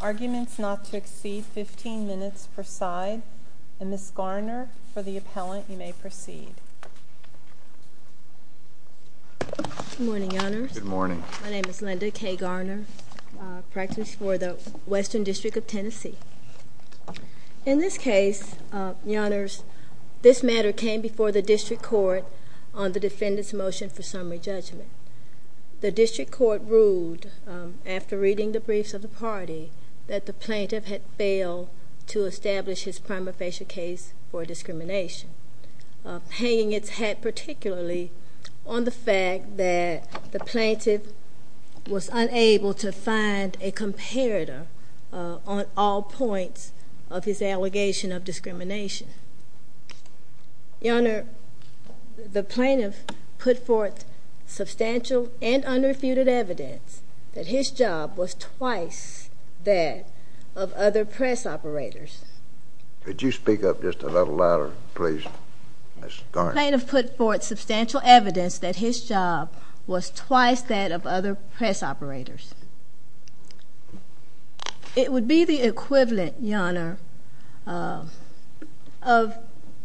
arguments not to exceed 15 minutes per side. Ms. Garner, for the appellant, you may proceed. Good morning, Your Honors. My name is Linda K. Garner, practicing for the Western District of Tennessee. In this case, Your Honors, this matter came before the District Court on the defendant's motion for summary judgment. The District Court ruled, after reading the briefs of the party, that the plaintiff had failed to establish his prima facie case for discrimination, hanging its hat particularly on the fact that the plaintiff was unable to find a comparator on all points of his allegation of discrimination. Your Honor, the plaintiff put forth substantial and unrefuted evidence that his job was twice that of other press operators. Could you speak up just a little louder, please, Ms. Garner? The plaintiff put forth substantial evidence that his job was twice that of other press operators. It would be the equivalent, Your Honor, of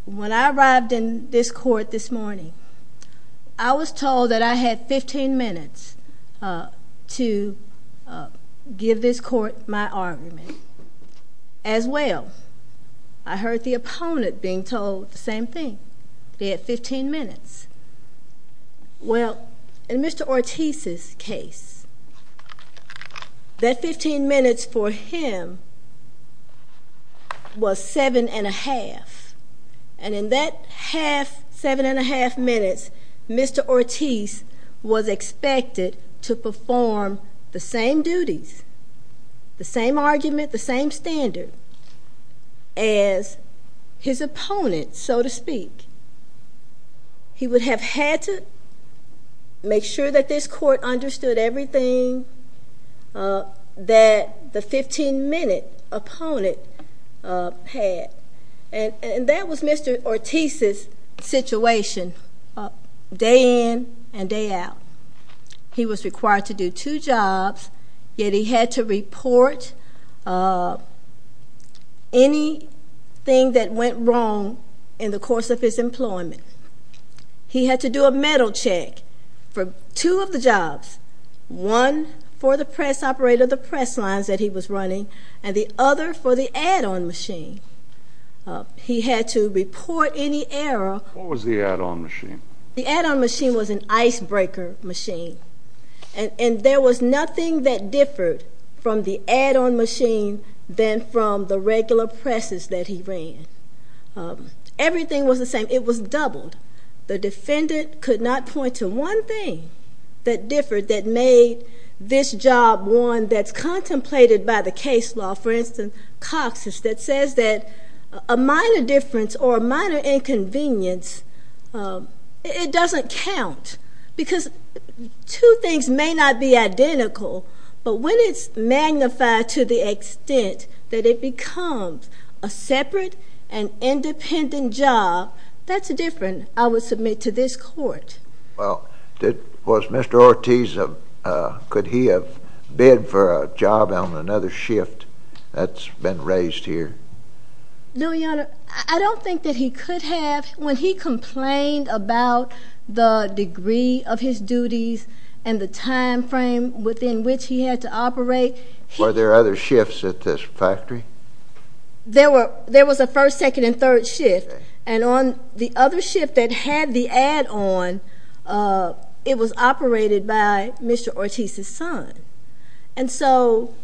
when I arrived in this court this morning. I was told that I had 15 minutes to give this court my argument. As well, I heard the opponent being told the same thing. They had 15 minutes. Well, in Mr. Ortiz's case, that 15 minutes for him was 7 1⁄2. And in that 7 1⁄2 minutes, Mr. Ortiz was expected to perform the same duties, the same argument, the same standard as his opponent, so to speak. He would have had to make sure that this court understood everything that the 15-minute opponent had. And that was Mr. Ortiz's situation, day in and day out. He was required to do two jobs, yet he had to report anything that went wrong in the course of his employment. He had to do a medal check for two of the jobs, one for the press operator, the press lines that he was running, and the other for the add-on machine. He had to report any error. What was the add-on machine? The add-on machine was an icebreaker machine. And there was nothing that differed from the add-on machine than from the regular presses that he ran. Everything was the same. It was doubled. The defendant could not point to one thing that differed that made this job one that's contemplated by the case law. For instance, Cox's, that says that a minor difference or a minor inconvenience, it doesn't count. Because two things may not be identical, but when it's magnified to the extent that it becomes a separate and independent job, that's different, I would submit, to this court. Well, was Mr. Ortiz, could he have bid for a job on another shift that's been raised here? No, Your Honor. I don't think that he could have. When he complained about the degree of his duties and the time frame within which he had to operate. Were there other shifts at this factory? There was a first, second, and third shift. Okay. And on the other shift that had the add-on, it was operated by Mr. Ortiz's son. And so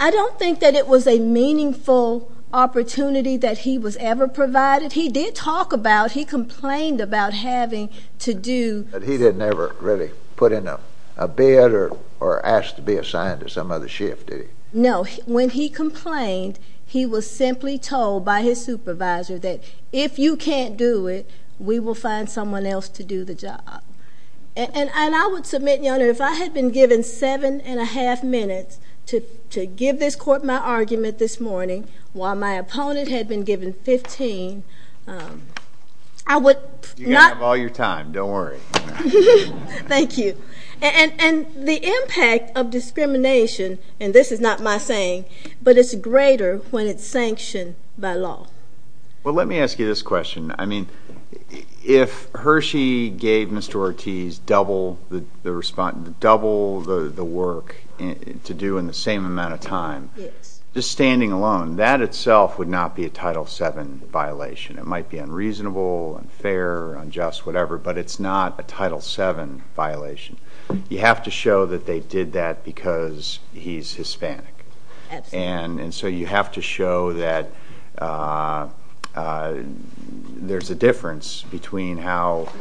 I don't think that it was a meaningful opportunity that he was ever provided. He did talk about, he complained about having to do. But he didn't ever really put in a bid or ask to be assigned to some other shift, did he? No. When he complained, he was simply told by his supervisor that if you can't do it, we will find someone else to do the job. And I would submit, Your Honor, if I had been given seven and a half minutes to give this court my argument this morning, while my opponent had been given 15, I would not. You have all your time. Don't worry. Thank you. And the impact of discrimination, and this is not my saying, but it's greater when it's sanctioned by law. Well, let me ask you this question. I mean, if Hershey gave Mr. Ortiz double the work to do in the same amount of time, just standing alone, that itself would not be a Title VII violation. It might be unreasonable, unfair, unjust, whatever, but it's not a Title VII violation. You have to show that they did that because he's Hispanic. And so you have to show that there's a difference between how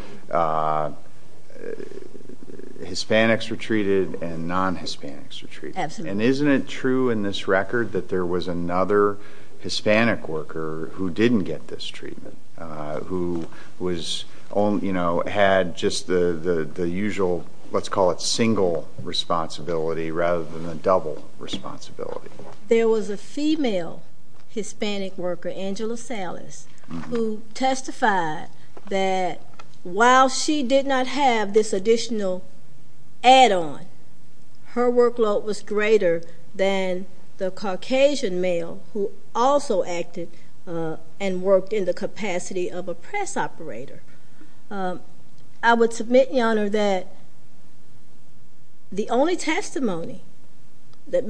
Hispanics were treated and non-Hispanics were treated. And isn't it true in this record that there was another Hispanic worker who didn't get this treatment, who had just the usual, let's call it single responsibility, rather than a double responsibility? There was a female Hispanic worker, Angela Salas, who testified that while she did not have this additional add-on, her workload was greater than the Caucasian male who also acted and worked in the capacity of a press operator. I would submit, Your Honor, that the only testimony that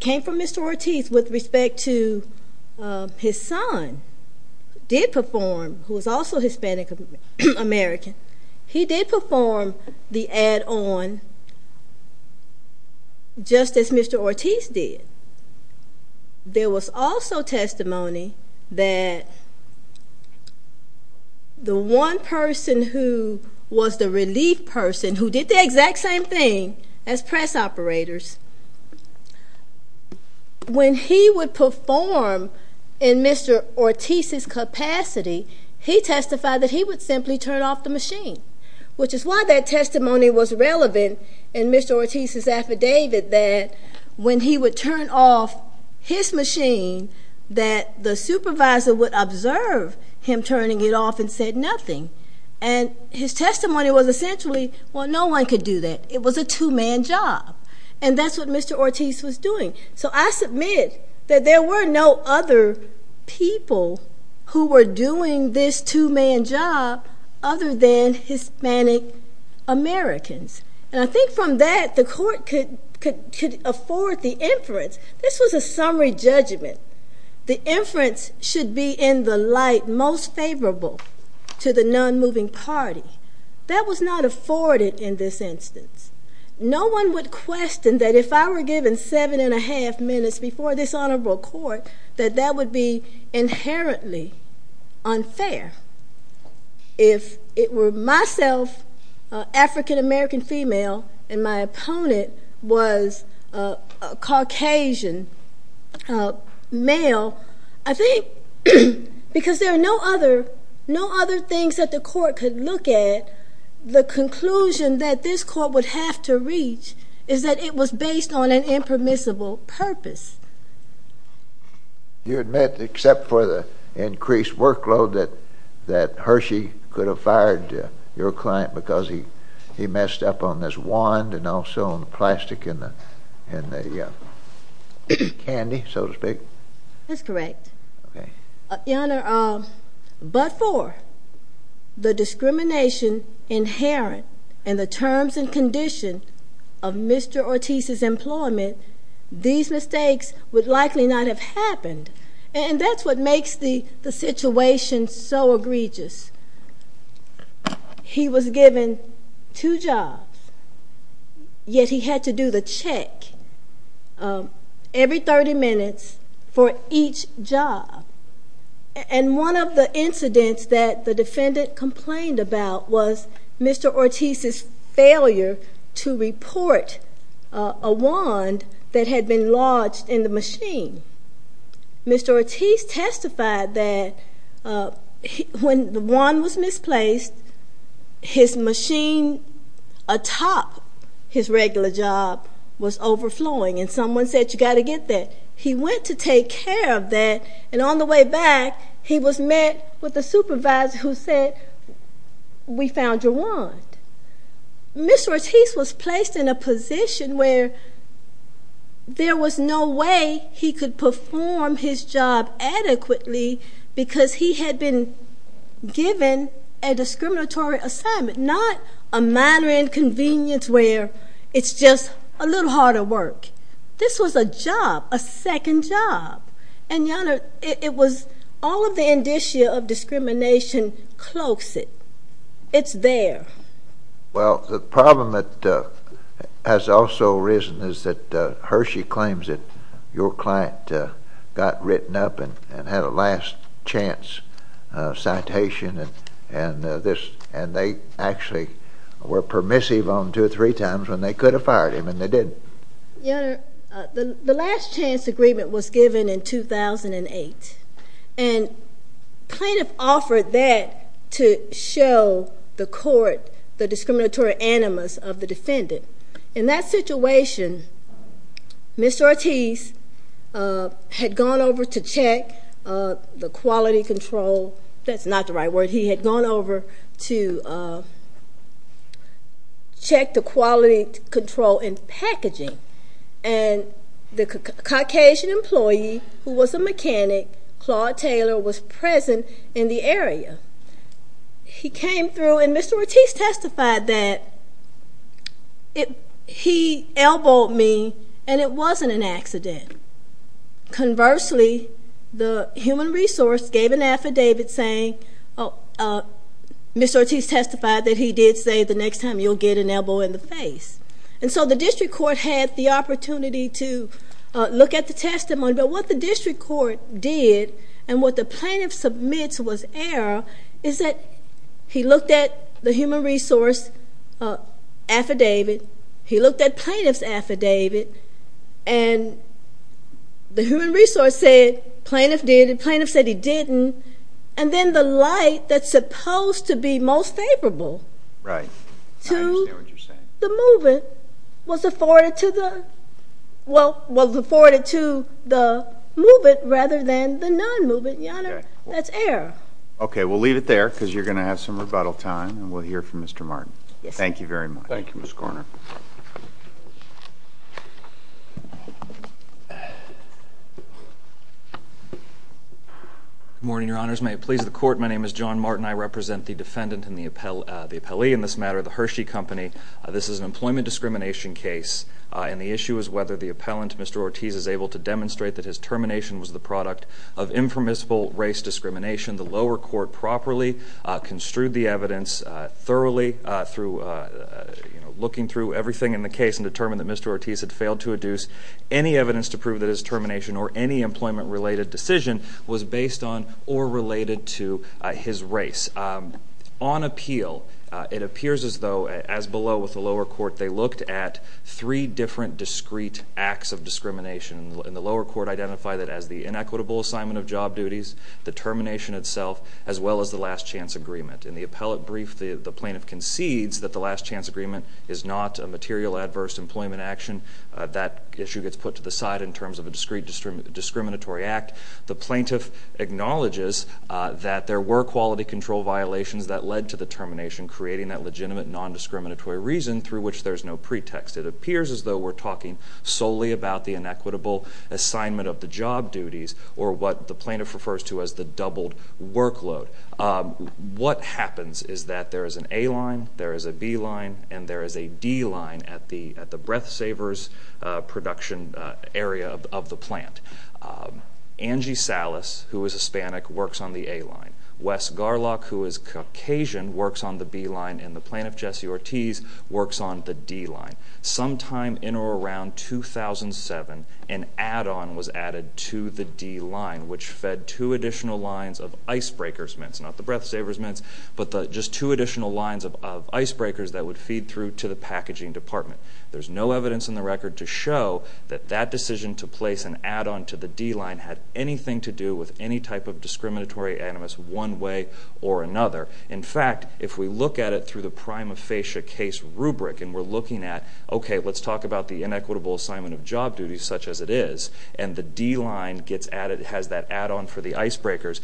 came from Mr. Ortiz with respect to his son, who did perform, who was also Hispanic American, he did perform the add-on just as Mr. Ortiz did. There was also testimony that the one person who was the relief person, who did the exact same thing as press operators, when he would perform in Mr. Ortiz's capacity, he testified that he would simply turn off the machine, which is why that testimony was relevant in Mr. Ortiz's affidavit that when he would turn off his machine, that the supervisor would observe him turning it off and said nothing. And his testimony was essentially, well, no one could do that. It was a two-man job. And that's what Mr. Ortiz was doing. So I submit that there were no other people who were doing this two-man job other than Hispanic Americans. And I think from that, the court could afford the inference. This was a summary judgment. The inference should be in the light most favorable to the non-moving party. That was not afforded in this instance. No one would question that if I were given seven and a half minutes before this honorable court, that that would be inherently unfair. If it were myself, an African-American female, and my opponent was a Caucasian male, I think because there are no other things that the court could look at, the conclusion that this court would have to reach is that it was based on an impermissible purpose. You admit, except for the increased workload, that Hershey could have fired your client because he messed up on this wand and also on the plastic and the candy, so to speak? That's correct. Your Honor, but for the discrimination inherent in the terms and condition of Mr. Ortiz's employment, these mistakes would likely not have happened. And that's what makes the situation so egregious. He was given two jobs, yet he had to do the check every 30 minutes for each job. And one of the incidents that the defendant complained about was Mr. Ortiz's failure to report a wand that had been lodged in the machine. Mr. Ortiz testified that when the wand was misplaced, his machine atop his regular job was overflowing, and someone said, you've got to get that. He went to take care of that, and on the way back, he was met with a supervisor who said, we found your wand. Mr. Ortiz was placed in a position where there was no way he could perform his job adequately because he had been given a discriminatory assignment, not a minor inconvenience where it's just a little harder work. This was a job, a second job. And, Your Honor, it was all of the indicia of discrimination cloaks it. It's there. Well, the problem that has also arisen is that Hershey claims that your client got written up and had a last chance citation, and they actually were permissive on two or three times when they could have fired him, and they didn't. Your Honor, the last chance agreement was given in 2008, and plaintiff offered that to show the court the discriminatory animus of the defendant. In that situation, Mr. Ortiz had gone over to check the quality control. That's not the right word. He had gone over to check the quality control in packaging, and the Caucasian employee who was a mechanic, Claude Taylor, was present in the area. He came through, and Mr. Ortiz testified that he elbowed me, and it wasn't an accident. Conversely, the human resource gave an affidavit saying, Mr. Ortiz testified that he did say the next time you'll get an elbow in the face. And so the district court had the opportunity to look at the testimony, but what the district court did and what the plaintiff submits was error is that he looked at the human resource affidavit, he looked at plaintiff's affidavit, and the human resource said plaintiff did, the plaintiff said he didn't, and then the light that's supposed to be most favorable to the move-in was afforded to the move-in rather than the non-move-in, Your Honor. That's error. Okay. We'll leave it there because you're going to have some rebuttal time, and we'll hear from Mr. Martin. Yes. Thank you very much. Thank you, Ms. Korner. Good morning, Your Honors. May it please the Court, my name is John Martin. I represent the defendant and the appellee in this matter, the Hershey Company. This is an employment discrimination case, and the issue is whether the appellant, Mr. Ortiz, is able to demonstrate that his termination was the product of informational race discrimination. The lower court properly construed the evidence thoroughly through looking through everything in the case and determined that Mr. Ortiz had failed to adduce any evidence to prove that his termination or any employment-related decision was based on or related to his race. On appeal, it appears as though, as below with the lower court, they looked at three different discrete acts of discrimination, and the lower court identified it as the inequitable assignment of job duties, the termination itself, as well as the last chance agreement. In the appellate brief, the plaintiff concedes that the last chance agreement is not a material adverse employment action. That issue gets put to the side in terms of a discrete discriminatory act. The plaintiff acknowledges that there were quality control violations that led to the termination, creating that legitimate nondiscriminatory reason through which there's no pretext. It appears as though we're talking solely about the inequitable assignment of the job duties or what the plaintiff refers to as the doubled workload. What happens is that there is an A line, there is a B line, and there is a D line at the breath savers production area of the plant. Angie Salas, who is Hispanic, works on the A line. Wes Garlock, who is Caucasian, works on the B line, and the plaintiff, Jesse Ortiz, works on the D line. Sometime in or around 2007, an add-on was added to the D line, which fed two additional lines of icebreakers mints, not the breath savers mints, but just two additional lines of icebreakers that would feed through to the packaging department. There's no evidence in the record to show that that decision to place an add-on to the D line had anything to do with any type of discriminatory animus one way or another. In fact, if we look at it through the prima facie case rubric and we're looking at, okay, let's talk about the inequitable assignment of job duties, such as it is, and the D line has that add-on for the icebreakers,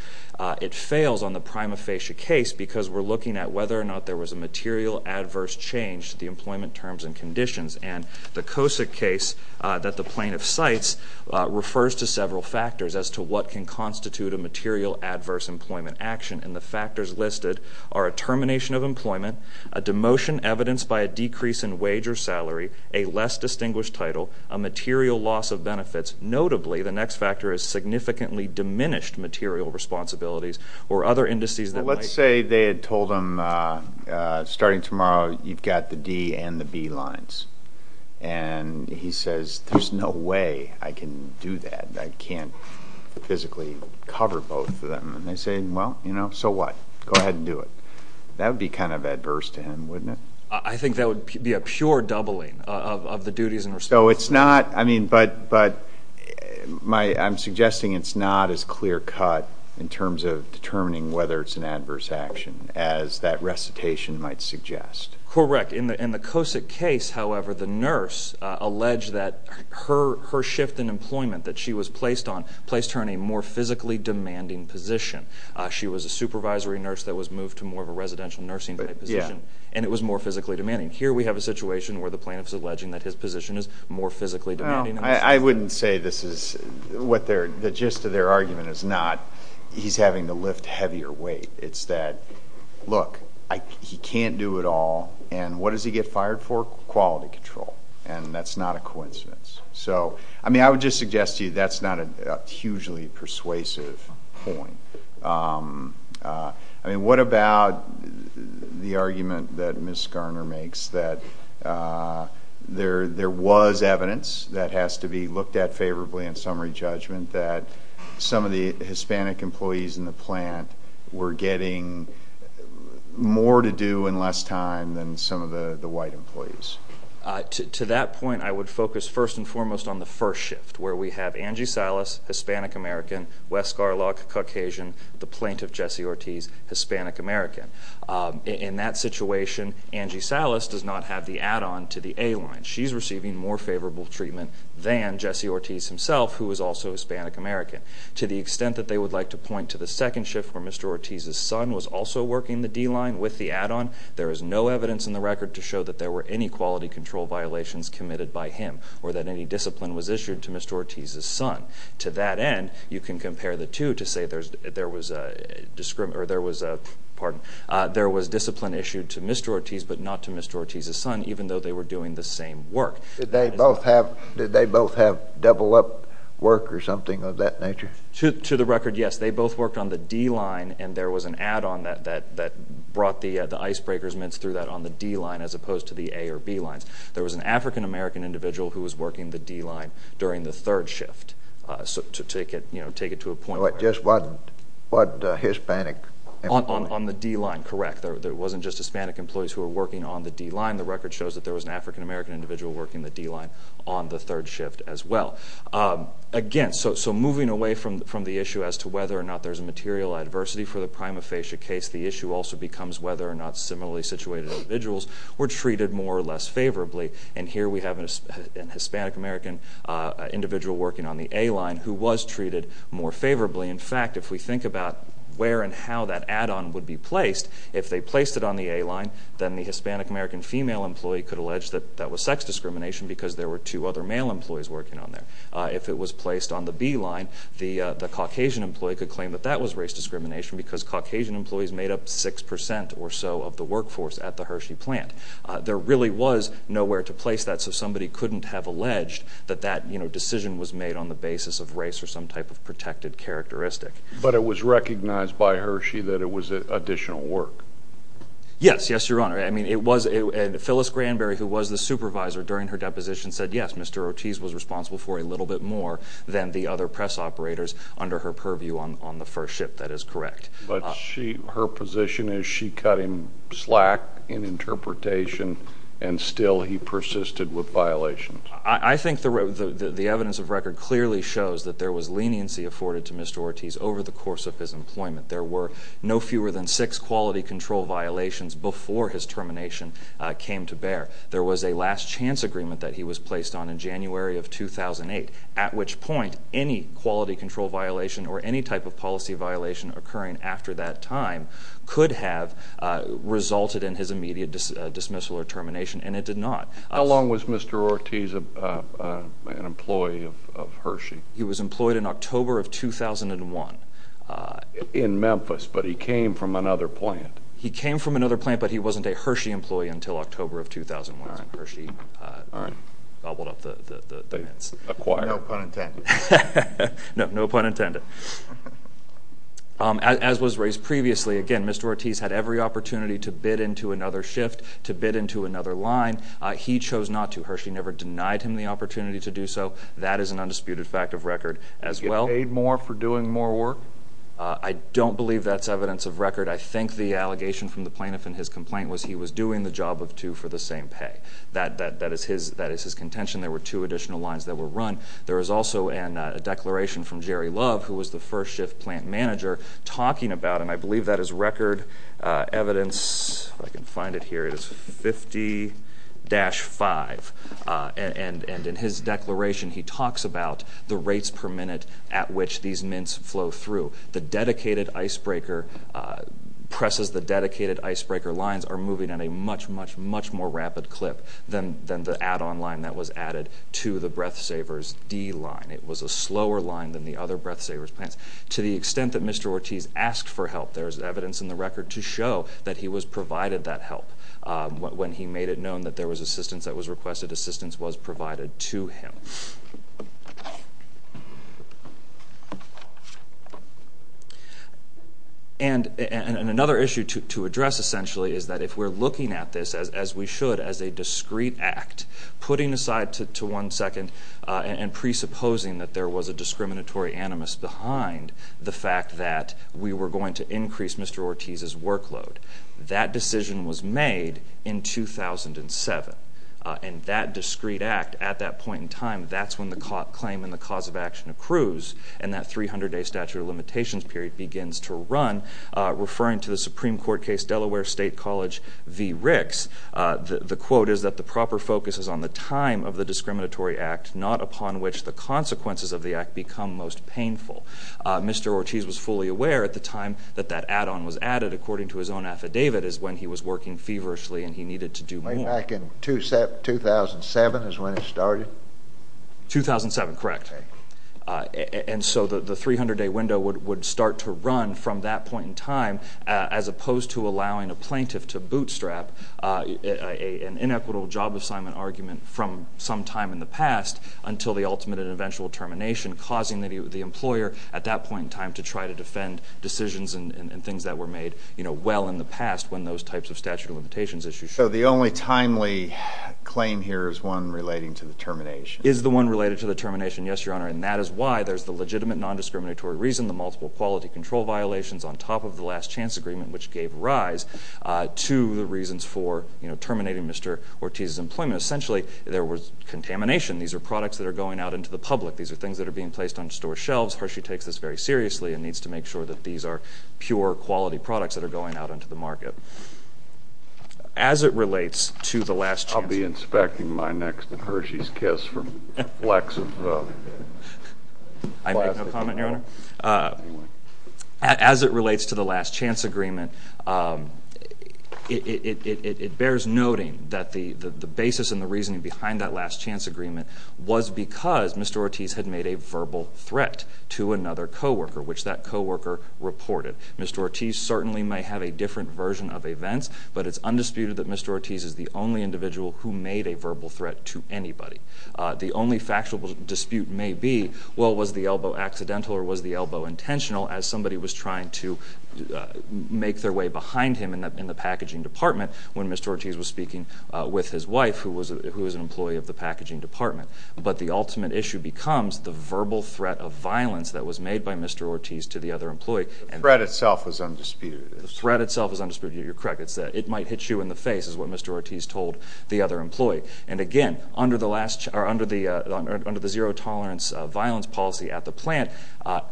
it fails on the prima facie case because we're looking at whether or not there was a material adverse change to the employment terms and conditions. And the COSIC case that the plaintiff cites refers to several factors as to what can constitute a material adverse employment action, and the factors listed are a termination of employment, a demotion evidenced by a decrease in wage or salary, a less distinguished title, a material loss of benefits. Notably, the next factor is significantly diminished material responsibilities or other indices that might... Let's say they had told him starting tomorrow you've got the D and the B lines, and he says, there's no way I can do that. I can't physically cover both of them. And they say, well, you know, so what? Go ahead and do it. That would be kind of adverse to him, wouldn't it? I think that would be a pure doubling of the duties and responsibilities. So it's not, I mean, but I'm suggesting it's not as clear cut in terms of determining whether it's an adverse action, as that recitation might suggest. Correct. In the COSIC case, however, the nurse alleged that her shift in employment that she was placed on placed her in a more physically demanding position. She was a supervisory nurse that was moved to more of a residential nursing type position, and it was more physically demanding. Here we have a situation where the plaintiff is alleging that his position is more physically demanding. I wouldn't say this is what their, the gist of their argument is not he's having to lift heavier weight. It's that, look, he can't do it all, and what does he get fired for? Quality control. And that's not a coincidence. So, I mean, I would just suggest to you that's not a hugely persuasive point. I mean, what about the argument that Ms. Garner makes that there was evidence that has to be looked at favorably in summary judgment that some of the Hispanic employees in the plant were getting more to do in less time than some of the white employees? To that point, I would focus first and foremost on the first shift, where we have Angie Silas, Hispanic American, West Scarlock, Caucasian, the plaintiff, Jesse Ortiz, Hispanic American. In that situation, Angie Silas does not have the add-on to the A line. She's receiving more favorable treatment than Jesse Ortiz himself, who is also Hispanic American. To the extent that they would like to point to the second shift, where Mr. Ortiz's son was also working the D line with the add-on, there is no evidence in the record to show that there were any quality control violations committed by him or that any discipline was issued to Mr. Ortiz's son. To that end, you can compare the two to say there was discipline issued to Mr. Ortiz but not to Mr. Ortiz's son, even though they were doing the same work. Did they both have double-up work or something of that nature? To the record, yes. They both worked on the D line, and there was an add-on that brought the icebreaker's mince through that on the D line as opposed to the A or B lines. There was an African American individual who was working the D line during the third shift. To take it to a point where— Just one Hispanic employee. On the D line, correct. There wasn't just Hispanic employees who were working on the D line. The record shows that there was an African American individual working the D line on the third shift as well. Again, so moving away from the issue as to whether or not there's a material adversity for the prima facie case, the issue also becomes whether or not similarly situated individuals were treated more or less favorably. And here we have an Hispanic American individual working on the A line who was treated more favorably. In fact, if we think about where and how that add-on would be placed, if they placed it on the A line, then the Hispanic American female employee could allege that that was sex discrimination because there were two other male employees working on there. If it was placed on the B line, the Caucasian employee could claim that that was race discrimination because Caucasian employees made up 6 percent or so of the workforce at the Hershey plant. There really was nowhere to place that, so somebody couldn't have alleged that that decision was made on the basis of race or some type of protected characteristic. But it was recognized by Hershey that it was additional work. Yes. Yes, Your Honor. Phyllis Granberry, who was the supervisor during her deposition, said, yes, Mr. Ortiz was responsible for a little bit more than the other press operators under her purview on the first shift. That is correct. But her position is she cut him slack in interpretation, and still he persisted with violations. I think the evidence of record clearly shows that there was leniency afforded to Mr. Ortiz over the course of his employment. There were no fewer than six quality control violations before his termination came to bear. There was a last chance agreement that he was placed on in January of 2008, at which point any quality control violation or any type of policy violation occurring after that time could have resulted in his immediate dismissal or termination, and it did not. How long was Mr. Ortiz an employee of Hershey? He was employed in October of 2001. In Memphis, but he came from another plant. He came from another plant, but he wasn't a Hershey employee until October of 2001. All right. No pun intended. No pun intended. As was raised previously, again, Mr. Ortiz had every opportunity to bid into another shift, to bid into another line. He chose not to. Hershey never denied him the opportunity to do so. That is an undisputed fact of record as well. Did he get paid more for doing more work? I don't believe that's evidence of record. I think the allegation from the plaintiff in his complaint was he was doing the job of two for the same pay. That is his contention. There were two additional lines that were run. There was also a declaration from Jerry Love, who was the first shift plant manager, talking about, and I believe that is record evidence. I can find it here. It is 50-5. And in his declaration, he talks about the rates per minute at which these mints flow through. The dedicated icebreaker presses the dedicated icebreaker lines are moving at a much, much, much more rapid clip than the add-on line that was added to the Breathsavers D line. It was a slower line than the other Breathsavers plants. To the extent that Mr. Ortiz asked for help, there is evidence in the record to show that he was provided that help. When he made it known that there was assistance that was requested, assistance was provided to him. And another issue to address, essentially, is that if we're looking at this, as we should, as a discrete act, putting aside to one second and presupposing that there was a discriminatory animus behind the fact that we were going to increase Mr. Ortiz's workload. That decision was made in 2007, and that discrete act at that point in time, that's when the claim and the cause of action accrues, and that 300-day statute of limitations period begins to run. Referring to the Supreme Court case Delaware State College v. Ricks, the quote is that the proper focus is on the time of the discriminatory act, not upon which the consequences of the act become most painful. Mr. Ortiz was fully aware at the time that that add-on was added, according to his own affidavit, is when he was working feverishly and he needed to do more. Back in 2007 is when it started? 2007, correct. And so the 300-day window would start to run from that point in time, as opposed to allowing a plaintiff to bootstrap an inequitable job assignment argument from some time in the past until the ultimate and eventual termination, causing the employer at that point in time to try to defend decisions and things that were made well in the past when those types of statute of limitations issues occurred. So the only timely claim here is one relating to the termination? It is the one related to the termination, yes, Your Honor, and that is why there is the legitimate nondiscriminatory reason, the multiple quality control violations on top of the last chance agreement, which gave rise to the reasons for terminating Mr. Ortiz's employment. Essentially, there was contamination. These are products that are going out into the public. These are things that are being placed on store shelves. Hershey takes this very seriously and needs to make sure that these are pure, quality products that are going out into the market. As it relates to the last chance agreement... I'll be inspecting my next Hershey's Kiss from the flecks of plastic. I make no comment, Your Honor. As it relates to the last chance agreement, it bears noting that the basis and the reasoning behind that last chance agreement was because Mr. Ortiz had made a verbal threat to another co-worker, which that co-worker reported. Mr. Ortiz certainly may have a different version of events, but it's undisputed that Mr. Ortiz is the only individual who made a verbal threat to anybody. The only factual dispute may be, well, was the elbow accidental or was the elbow intentional as somebody was trying to make their way behind him in the packaging department when Mr. Ortiz was speaking with his wife, who was an employee of the packaging department. But the ultimate issue becomes the verbal threat of violence that was made by Mr. Ortiz to the other employee. The threat itself was undisputed. The threat itself was undisputed. You're correct. It's that it might hit you in the face, is what Mr. Ortiz told the other employee. And, again, under the zero-tolerance violence policy at the plant,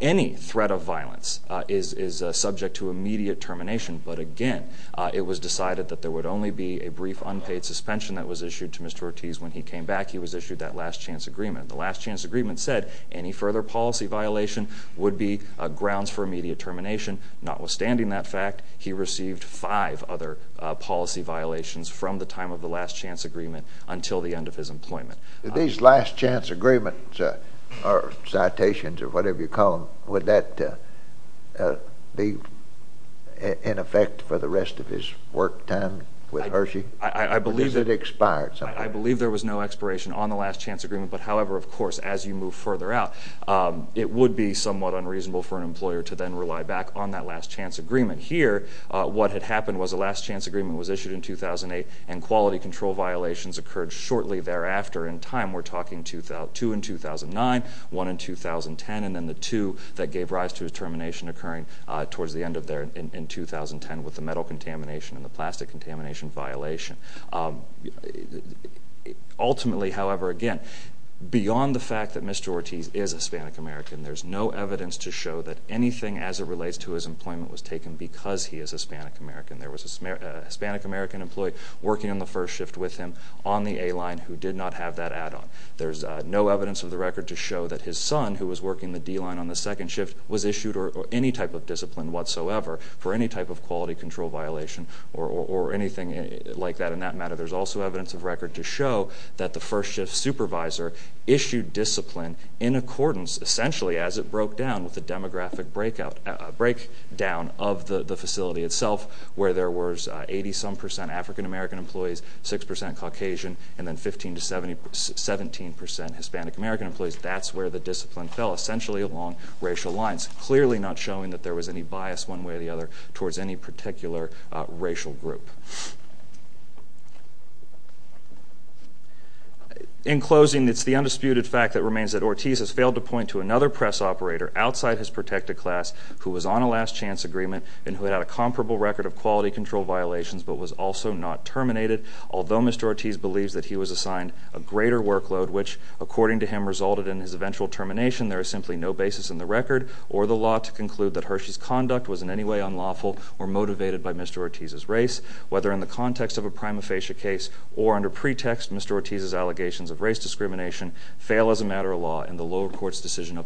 any threat of violence is subject to immediate termination. But, again, it was decided that there would only be a brief unpaid suspension that was issued to Mr. Ortiz when he came back. He was issued that last chance agreement. The last chance agreement said any further policy violation would be grounds for immediate termination. Notwithstanding that fact, he received five other policy violations from the time of the last chance agreement until the end of his employment. These last chance agreements, or citations, or whatever you call them, would that be in effect for the rest of his work time with Hershey? I believe there was no expiration on the last chance agreement. But, however, of course, as you move further out, it would be somewhat unreasonable for an employer to then rely back on that last chance agreement. Here, what had happened was the last chance agreement was issued in 2008, and quality control violations occurred shortly thereafter in time. We're talking two in 2009, one in 2010, and then the two that gave rise to his termination occurring towards the end of there in 2010 with the metal contamination and the plastic contamination violation. Ultimately, however, again, beyond the fact that Mr. Ortiz is Hispanic American, there's no evidence to show that anything as it relates to his employment was taken because he is Hispanic American. There was a Hispanic American employee working on the first shift with him on the A-line who did not have that add-on. There's no evidence of the record to show that his son, who was working the D-line on the second shift, was issued any type of discipline whatsoever for any type of quality control violation or anything like that in that matter. There's also evidence of record to show that the first shift supervisor issued discipline in accordance, essentially, as it broke down with the demographic breakdown of the facility itself where there was 80-some percent African American employees, 6 percent Caucasian, and then 15 to 17 percent Hispanic American employees. That's where the discipline fell, essentially along racial lines, clearly not showing that there was any bias one way or the other towards any particular racial group. In closing, it's the undisputed fact that remains that Ortiz has failed to point to another press operator outside his protected class who was on a last-chance agreement and who had a comparable record of quality control violations but was also not terminated. Although Mr. Ortiz believes that he was assigned a greater workload, which, according to him, resulted in his eventual termination, there is simply no basis in the record or the law to conclude that Hershey's conduct was in any way unlawful or motivated by Mr. Ortiz's race. Whether in the context of a prima facie case or under pretext, Mr. Ortiz's allegations of race discrimination fail as a matter of law and the lower court's decision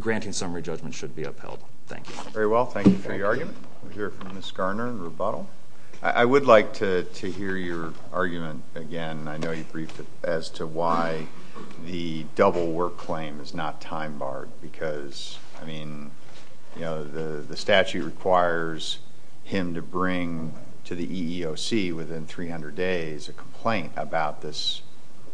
granting summary judgment should be upheld. Thank you. Very well. Thank you for your argument. We'll hear from Ms. Garner in rebuttal. I would like to hear your argument again. I know you briefed as to why the double work claim is not time-barred because the statute requires him to bring to the EEOC within 300 days a complaint about this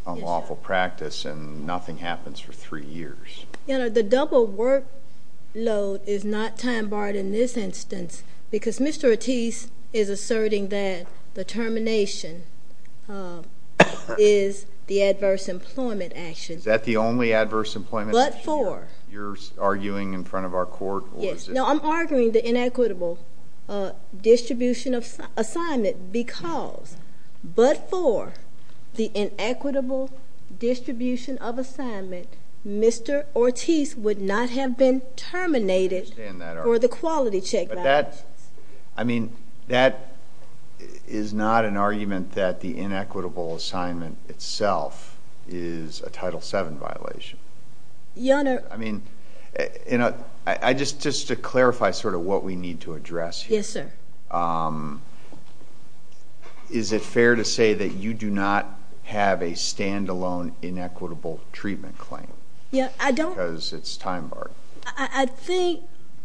unlawful practice and nothing happens for three years. The double workload is not time-barred in this instance because Mr. Ortiz is asserting that the termination is the adverse employment action. Is that the only adverse employment action you're arguing in front of our court? Yes. No, I'm arguing the inequitable distribution of assignment because but for the inequitable distribution of assignment, Mr. Ortiz would not have been terminated for the quality check. I mean, that is not an argument that the inequitable assignment itself is a Title VII violation. Your Honor. I mean, just to clarify sort of what we need to address here. Yes, sir. Is it fair to say that you do not have a stand-alone inequitable treatment claim? I don't. Because it's time-barred. I think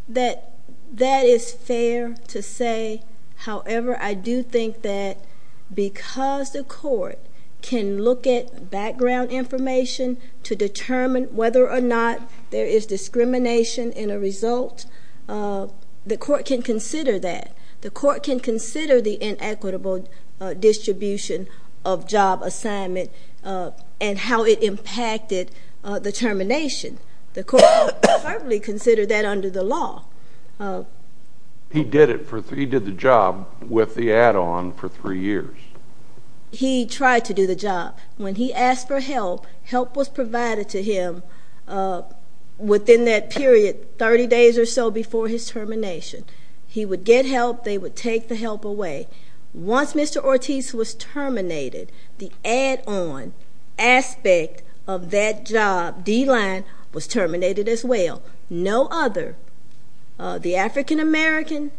that that is fair to say. However, I do think that because the court can look at background information to determine whether or not there is discrimination in a result, the court can consider that. The court can consider the inequitable distribution of job assignment and how it impacted the termination. The court can certainly consider that under the law. He did the job with the add-on for three years. He tried to do the job. When he asked for help, help was provided to him within that period, 30 days or so before his termination. He would get help. They would take the help away. Once Mr. Ortiz was terminated, the add-on aspect of that job, D-line, was terminated as well. No other, the African-American,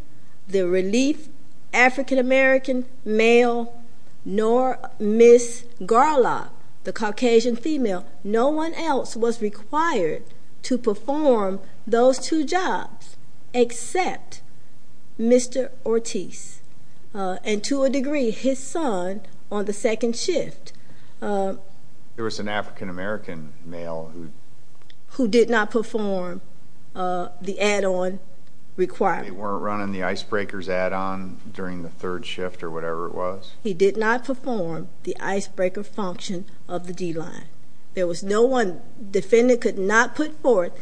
the relief African-American male, nor Ms. Garlot, the Caucasian female, no one else was required to perform those two jobs except Mr. Ortiz and, to a degree, his son on the second shift. There was an African-American male who? Who did not perform the add-on required. They weren't running the icebreaker's add-on during the third shift or whatever it was? He did not perform the icebreaker function of the D-line. There was no one, defendant could not put forth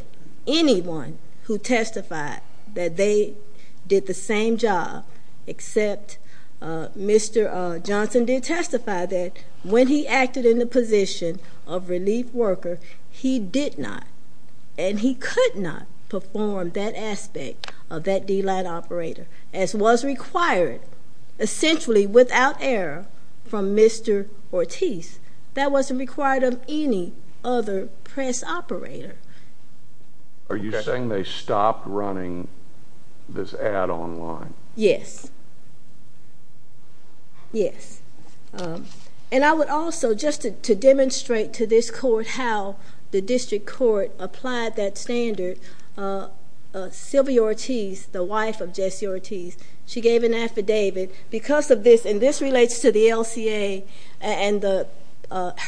anyone who testified that they did the same job except Mr. Johnson did testify that when he acted in the position of relief worker, he did not and he could not perform that aspect of that D-line operator, as was required essentially without error from Mr. Ortiz. That wasn't required of any other press operator. Are you saying they stopped running this add-on line? Yes. Yes. And I would also, just to demonstrate to this court how the district court applied that standard, Sylvia Ortiz, the wife of Jesse Ortiz, she gave an affidavit because of this, and this relates to the LCA and the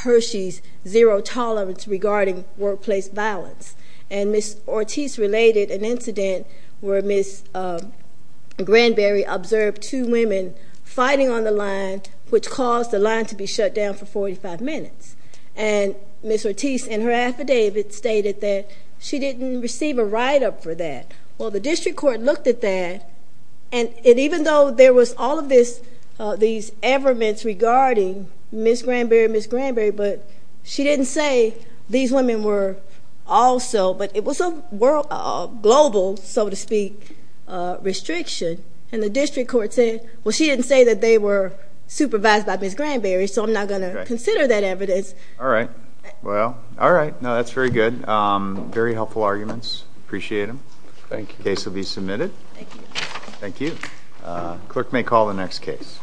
Hershey's zero tolerance regarding workplace violence. And Ms. Ortiz related an incident where Ms. Granberry observed two women fighting on the line, which caused the line to be shut down for 45 minutes. And Ms. Ortiz in her affidavit stated that she didn't receive a write-up for that. Well, the district court looked at that, and even though there was all of these everments regarding Ms. Granberry, Ms. Granberry, but she didn't say these women were also, but it was a global, so to speak, restriction. And the district court said, well, she didn't say that they were supervised by Ms. Granberry, so I'm not going to consider that evidence. All right. Well, all right. No, that's very good. Very helpful arguments. Appreciate them. Thank you. The case will be submitted. Thank you. Thank you. The clerk may call the next case.